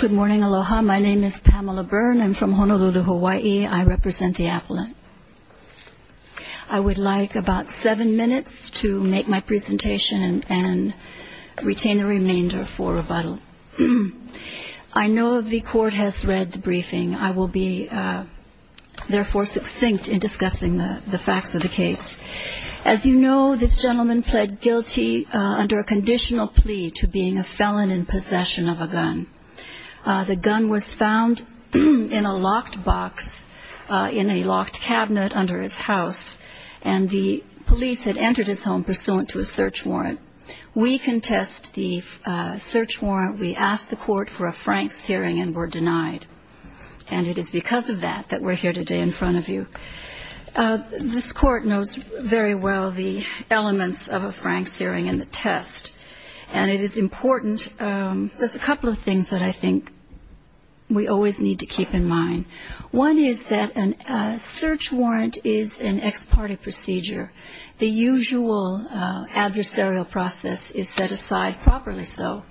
Good morning, aloha. My name is Pamela Byrne. I'm from Honolulu, Hawaii. I represent the appellant. I would like about seven minutes to make my presentation and retain the remainder for rebuttal. I know the court has read the briefing. I will be, therefore, succinct in discussing the facts of the case. As you know, this gentleman pled guilty under a conditional plea to being a felon in possession of a gun. The gun was found in a locked box in a locked cabinet under his house, and the police had entered his home pursuant to a search warrant. We contest the search warrant. We asked the court for a Franks hearing and were denied. And it is because of that that we're here today in front of you. This court knows very well the elements of a Franks hearing and the test. And it is important. There's a couple of things that I think we always need to keep in mind. One is that a search warrant is an ex parte procedure. The usual adversarial process is set aside properly so.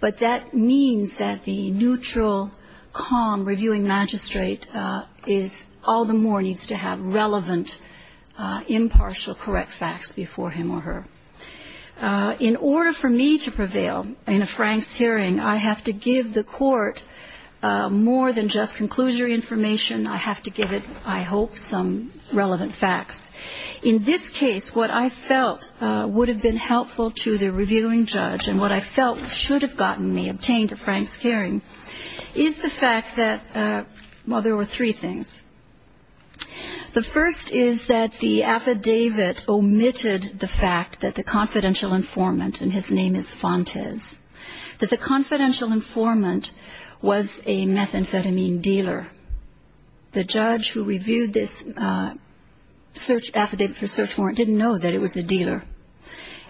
But that means that the neutral, calm reviewing magistrate is all the more needs to have relevant, impartial, correct facts before him or her. In order for me to prevail in a Franks hearing, I have to give the court more than just conclusion information. I have to give it, I hope, some relevant facts. In this case, what I felt would have been helpful to the reviewing judge and what I felt should have gotten me obtained a Franks hearing is the fact that, well, there were three things. The first is that the affidavit omitted the fact that the confidential informant, and his name is Fontes, that the confidential informant was a methamphetamine dealer. The judge who reviewed this search affidavit for search warrant didn't know that it was a dealer.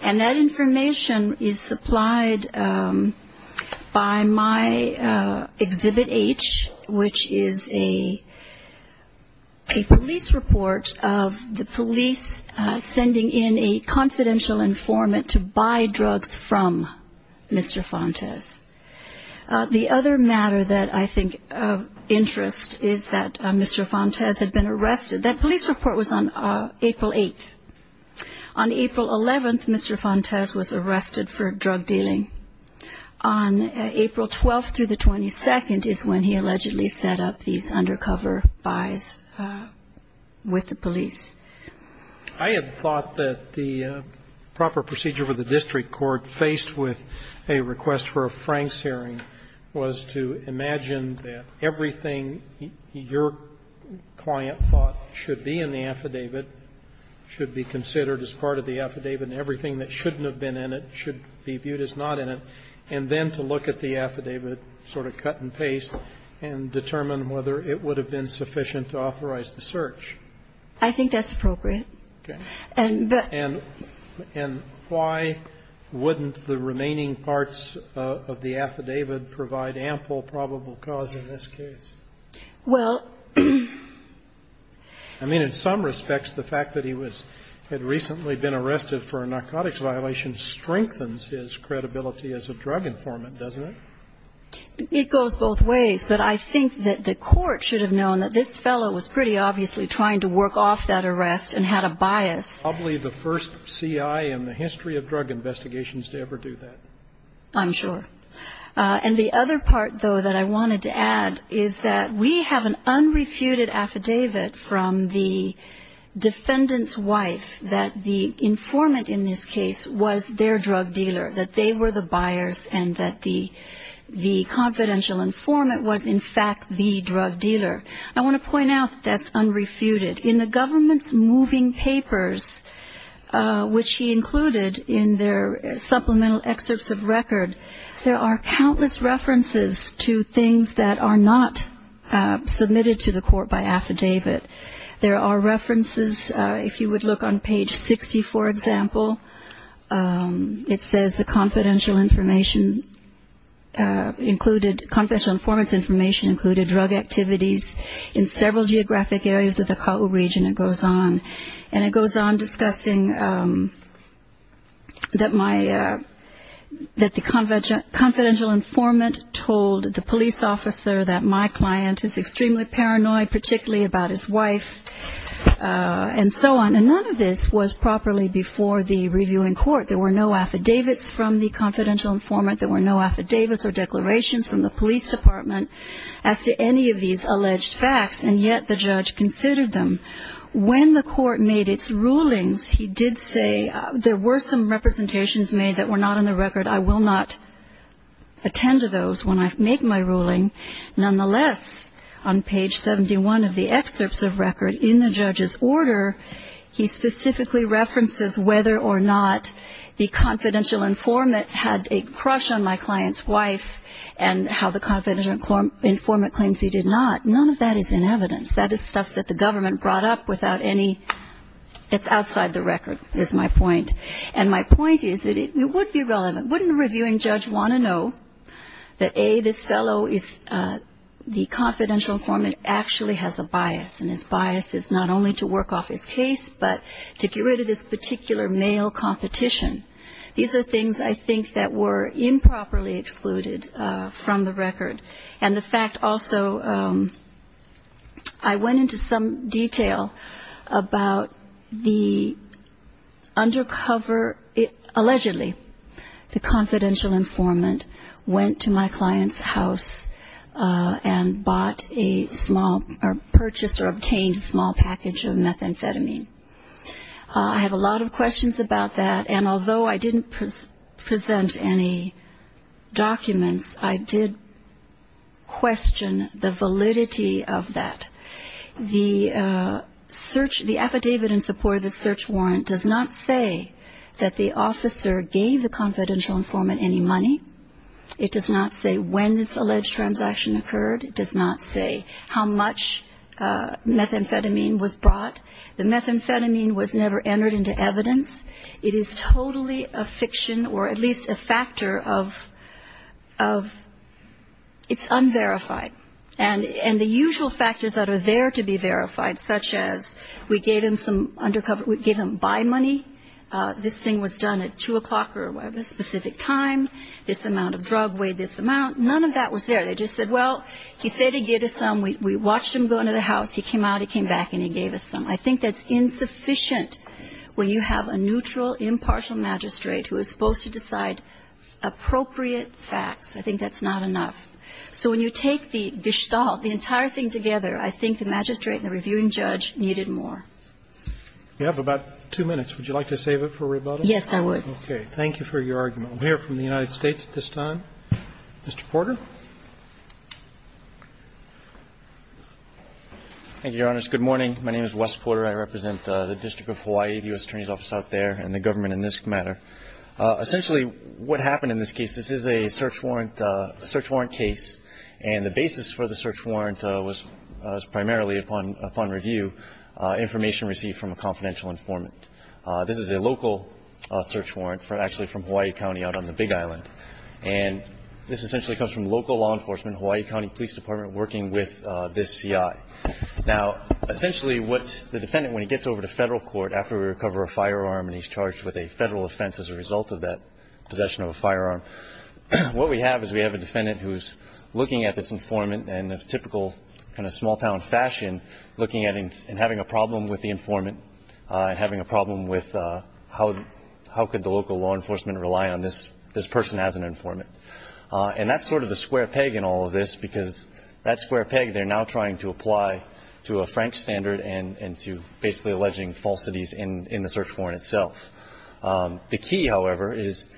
And that information is supplied by my Exhibit H, which is a police report of the police sending in a confidential informant to buy drugs from Mr. Fontes. The other matter that I think of interest is that Mr. Fontes had been arrested. That police report was on April 8th. On April 11th, Mr. Fontes was arrested for drug dealing. On April 12th through the 22nd is when he allegedly set up these undercover buys with the police. I had thought that the proper procedure for the district court faced with a request for a Franks hearing was to imagine that everything your client thought should be in the affidavit should be considered as part of the affidavit, and everything that shouldn't have been in it should be viewed as not in it, and then to look at the affidavit sort of cut and paste and determine whether it would have been sufficient to authorize the search. I think that's appropriate. And why wouldn't the remaining parts of the affidavit provide ample probable cause in this case? Well... I mean, in some respects the fact that he had recently been arrested for a narcotics violation strengthens his credibility as a drug informant, doesn't it? It goes both ways. But I think that the court should have known that this fellow was pretty obviously trying to work off that arrest and had a bias. Probably the first C.I. in the history of drug investigations to ever do that. I'm sure. And the other part, though, that I wanted to add is that we have an unrefuted affidavit from the defendant's wife that the informant in this case was their drug dealer, that they were the buyers and that the confidential informant was, in fact, the drug dealer. I want to point out that's unrefuted. In the government's moving papers, which he included in their supplemental excerpts of record, there are countless references to things that are not submitted to the court by affidavit. There are references, if you would look on page 60, for example, it says the confidential information included, confidential informant's information included drug activities in several geographic areas of the Kaua region, and it goes on. And it goes on discussing that the confidential informant told the police officer that my client is extremely paranoid, particularly about his wife, and so on. And none of this was properly before the reviewing court. There were no affidavits from the confidential informant. There were no affidavits or declarations from the police department as to any of these alleged facts, and yet the judge considered them. When the court made its rulings, he did say there were some representations made that were not in the record. Nonetheless, on page 71 of the excerpts of record in the judge's order, he specifically references whether or not the confidential informant had a crush on my client's wife and how the confidential informant claims he did not. None of that is in evidence. That is stuff that the government brought up without any ñ it's outside the record is my point. And my point is that it would be relevant. But wouldn't a reviewing judge want to know that, A, this fellow is ñ the confidential informant actually has a bias, and his bias is not only to work off his case but to get rid of this particular male competition? These are things, I think, that were improperly excluded from the record. And the fact also ñ I went into some detail about the undercover ñ allegedly the confidential informant went to my client's house and bought a small ñ or purchased or obtained a small package of methamphetamine. I have a lot of questions about that, and although I didn't present any documents, I did question the validity of that. The search ñ the affidavit in support of the search warrant does not say that the officer gave the confidential informant any money. It does not say when this alleged transaction occurred. It does not say how much methamphetamine was brought. The methamphetamine was never entered into evidence. It is totally a fiction or at least a factor of ñ of ñ it's unverified. And the usual factors that are there to be verified, such as we gave him some undercover ñ we gave him buy money, this thing was done at 2 o'clock or a specific time, this amount of drug weighed this amount, none of that was there. They just said, well, he said he gave us some. We watched him go into the house. He came out, he came back, and he gave us some. I think that's insufficient when you have a neutral, impartial magistrate who is supposed to decide appropriate facts. I think that's not enough. So when you take the gestalt, the entire thing together, I think the magistrate and the reviewing judge needed more. Roberts. You have about two minutes. Would you like to save it for rebuttal? Yes, I would. Okay. Thank you for your argument. We'll hear from the United States at this time. Mr. Porter. Thank you, Your Honors. Good morning. My name is Wes Porter. I represent the District of Hawaii, the U.S. Attorney's Office out there, and the government in this matter. Essentially what happened in this case, this is a search warrant case, and the basis for the search warrant was primarily upon review, information received from a confidential informant. This is a local search warrant actually from Hawaii County out on the Big Island. And this essentially comes from local law enforcement, Hawaii County Police Department working with this CI. Now, essentially what the defendant, when he gets over to Federal court after we recover a firearm and he's charged with a Federal offense as a result of that possession of a firearm, what we have is we have a defendant who's looking at this informant in a typical kind of small-town fashion, looking at it and having a problem with the informant, having a problem with how could the local law enforcement rely on this person as an informant. And that's sort of the square peg in all of this, because that square peg they're now trying to apply to a Frank standard and to basically alleging falsities in the search warrant itself. The key, however, is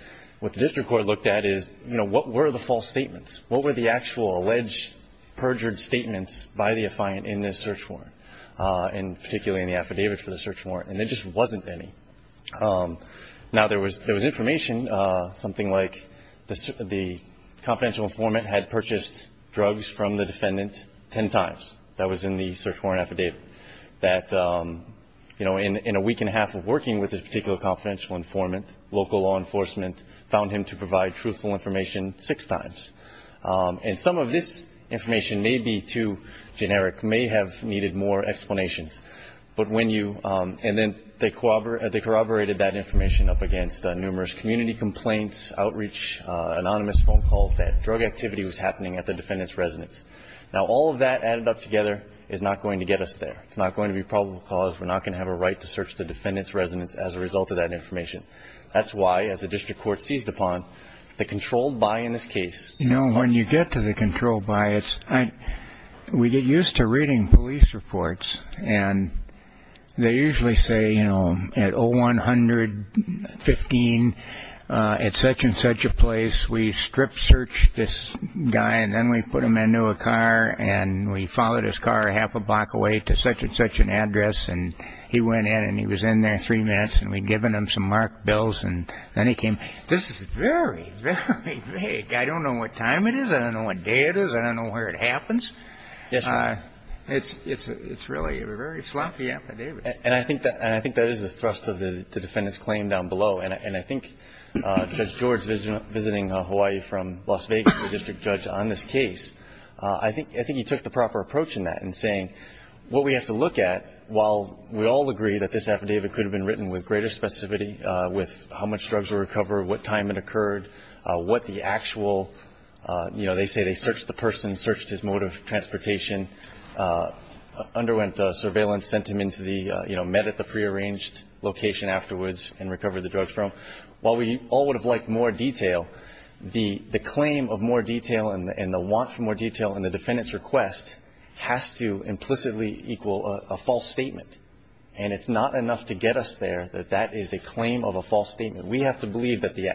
what the district court looked at is, you know, what were the false statements? What were the actual alleged perjured statements by the defiant in this search warrant, and particularly in the affidavit for the search warrant? And there just wasn't any. Now, there was information, something like the confidential informant had purchased drugs from the defendant ten times. That was in the search warrant affidavit that, you know, in a week and a half of working with this particular confidential informant, local law enforcement found him to provide truthful information six times. And some of this information may be too generic, may have needed more explanations. But when you – and then they corroborated that information up against numerous community complaints, outreach, anonymous phone calls, that drug activity was happening at the defendant's residence. Now, all of that added up together is not going to get us there. It's not going to be probable cause. We're not going to have a right to search the defendant's residence as a result of that information. That's why, as the district court seized upon, the controlled by in this case – We get used to reading police reports. And they usually say, you know, at 0100-15, at such and such a place, we strip searched this guy. And then we put him into a car and we followed his car half a block away to such and such an address. And he went in and he was in there three minutes. And we'd given him some marked bills. And then he came. This is very, very vague. I don't know what time it is. I don't know what day it is. I don't know where it happens. Yes, Your Honor. It's really a very sloppy affidavit. And I think that is the thrust of the defendant's claim down below. And I think Judge George, visiting Hawaii from Las Vegas, the district judge on this case, I think he took the proper approach in that in saying what we have to look at, while we all agree that this affidavit could have been written with greater specificity with how much drugs were recovered, what time it occurred, what the actual, you know, they say they searched the person, searched his mode of transportation, underwent surveillance, sent him into the, you know, met at the prearranged location afterwards and recovered the drugs for him. While we all would have liked more detail, the claim of more detail and the want for more detail in the defendant's request has to implicitly equal a false statement. And it's not enough to get us there that that is a claim of a false statement. We have to believe that the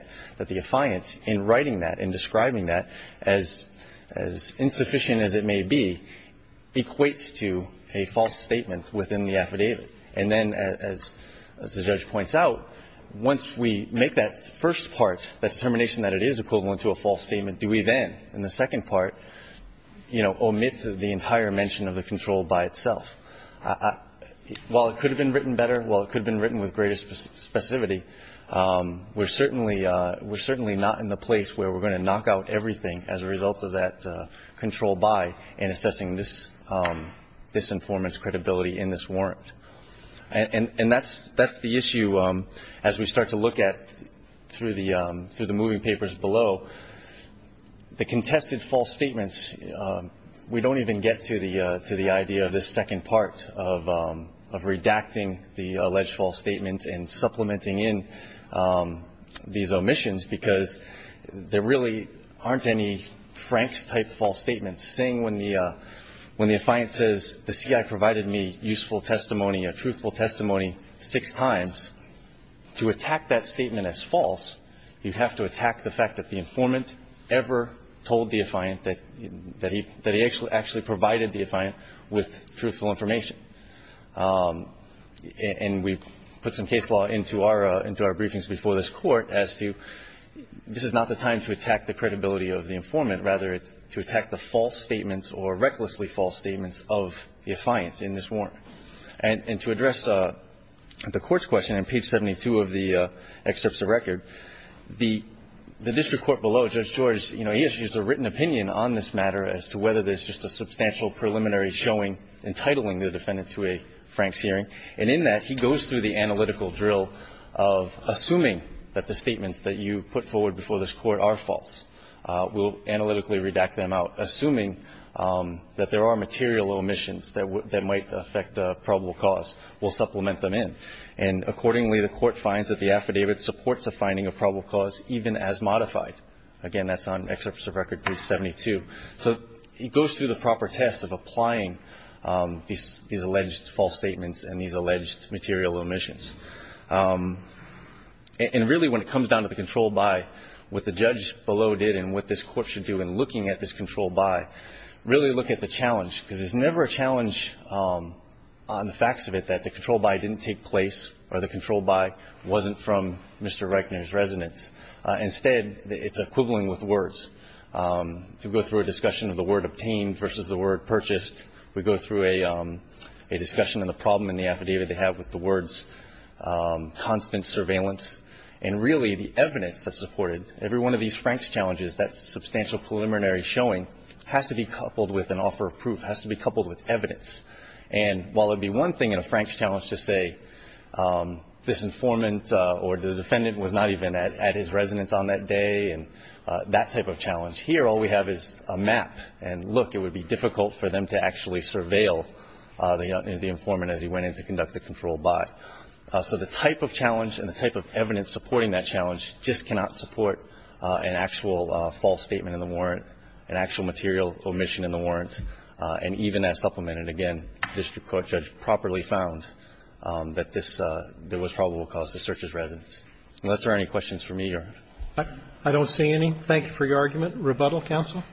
affiant in writing that, in describing that, as insufficient as it may be, equates to a false statement within the affidavit. And then, as the judge points out, once we make that first part, that determination that it is equivalent to a false statement, do we then, in the second part, you know, omit the entire mention of the control by itself. While it could have been written better, while it could have been written with greater specificity, we're certainly not in the place where we're going to knock out everything as a result of that control by in assessing this informant's credibility in this warrant. And that's the issue, as we start to look at through the moving papers below. The contested false statements, we don't even get to the idea of this second part of redacting the alleged false statements and supplementing in these omissions, because there really aren't any Franks-type false statements. Saying when the affiant says, the C.I. provided me useful testimony or truthful testimony six times, to attack that statement as false, you have to attack the fact that the informant ever told the affiant that he actually provided the affiant with truthful information. And we've put some case law into our briefings before this Court as to this is not the time to attack the credibility of the informant. Rather, it's to attack the false statements or recklessly false statements of the affiant in this warrant. And to address the Court's question on page 72 of the excerpts of record, the district court below, Judge George, you know, he has used a written opinion on this matter as to whether there's just a substantial preliminary showing entitling the defendant to a Franks hearing. And in that, he goes through the analytical drill of assuming that the statements that you put forward before this Court are false. We'll analytically redact them out, assuming that there are material omissions that might affect probable cause. We'll supplement them in. And accordingly, the Court finds that the affidavit supports a finding of probable cause even as modified. Again, that's on excerpts of record, page 72. So he goes through the proper test of applying these alleged false statements and these alleged material omissions. And really, when it comes down to the control by, what the judge below did and what this Court should do in looking at this control by, really look at the challenge, because there's never a challenge on the facts of it that the control by didn't take place or the control by wasn't from Mr. Reichner's residence. Instead, it's equivalent with words. You go through a discussion of the word obtained versus the word purchased. We go through a discussion of the problem in the affidavit they have with the words constant surveillance. And really, the evidence that supported every one of these Franks challenges, that substantial preliminary showing, has to be coupled with an offer of proof, has to be coupled with evidence. And while it would be one thing in a Franks challenge to say this informant or the defendant was not even at his residence on that day and that type of challenge, here all we have is a map. And look, it would be difficult for them to actually surveil the informant as he went in to conduct the control by. So the type of challenge and the type of evidence supporting that challenge just cannot support an actual false statement in the warrant, an actual material omission in the warrant. And even as supplemented again, the district court judge properly found that this was probable cause to search his residence. Unless there are any questions from you, Your Honor. Roberts. I don't see any. Thank you for your argument. Rebuttal, counsel.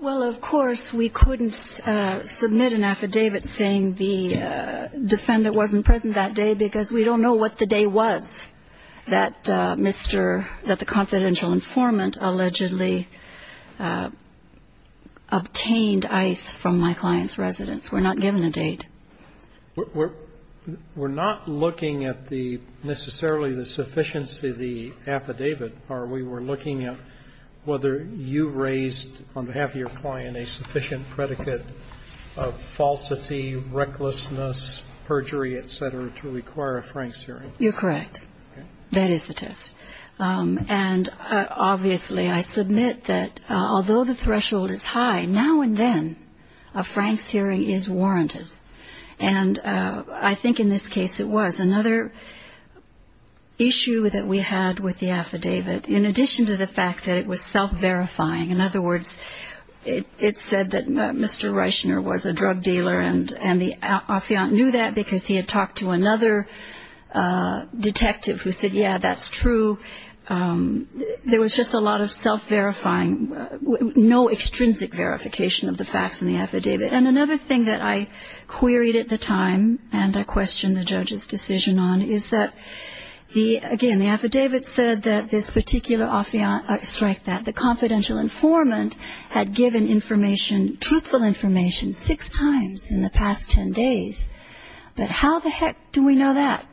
Well, of course, we couldn't submit an affidavit saying the defendant wasn't present that day because we don't know what the day was that Mr. ---- that the confidential informant allegedly obtained ice from my client's residence. We're not given a date. We're not looking at necessarily the sufficiency of the affidavit. We were looking at whether you raised on behalf of your client a sufficient predicate of falsity, recklessness, perjury, et cetera, to require a Franks hearing. You're correct. That is the test. And obviously I submit that although the threshold is high, now and then a Franks hearing is warranted. And I think in this case it was. Another issue that we had with the affidavit, in addition to the fact that it was self-verifying, in other words, it said that Mr. Reischner was a drug dealer and the affiant knew that because he had talked to another detective who said, yeah, that's true. There was just a lot of self-verifying, no extrinsic verification of the facts in the affidavit. And another thing that I queried at the time and I questioned the judge's decision on is that, again, the affidavit said that this particular affiant strike that the confidential informant had given information, truthful information, six times in the past 10 days. But how the heck do we know that?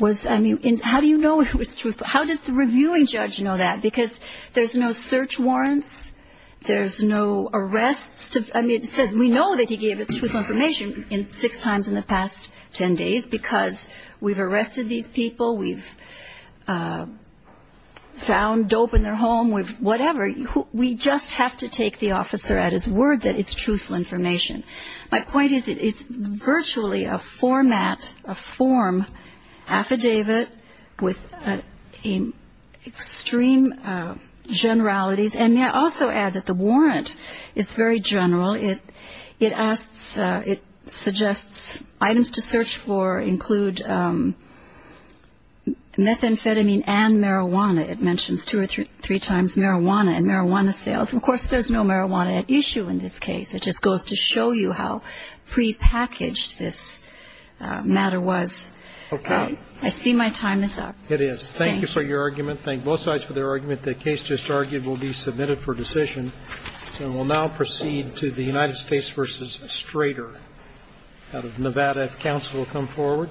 How do you know it was truthful? How does the reviewing judge know that? Because there's no search warrants, there's no arrests. We know that he gave us truthful information six times in the past 10 days because we've arrested these people, we've found dope in their home, whatever. We just have to take the officer at his word that it's truthful information. My point is it's virtually a format, a form affidavit with extreme generalities. And may I also add that the warrant is very general. It suggests items to search for include methamphetamine and marijuana. It mentions two or three times marijuana and marijuana sales. Of course, there's no marijuana at issue in this case. It just goes to show you how prepackaged this matter was. I see my time is up. It is. Thank you for your argument. Thank both sides for their argument. The case just argued will be submitted for decision. So we'll now proceed to the United States v. Strader out of Nevada. If counsel will come forward.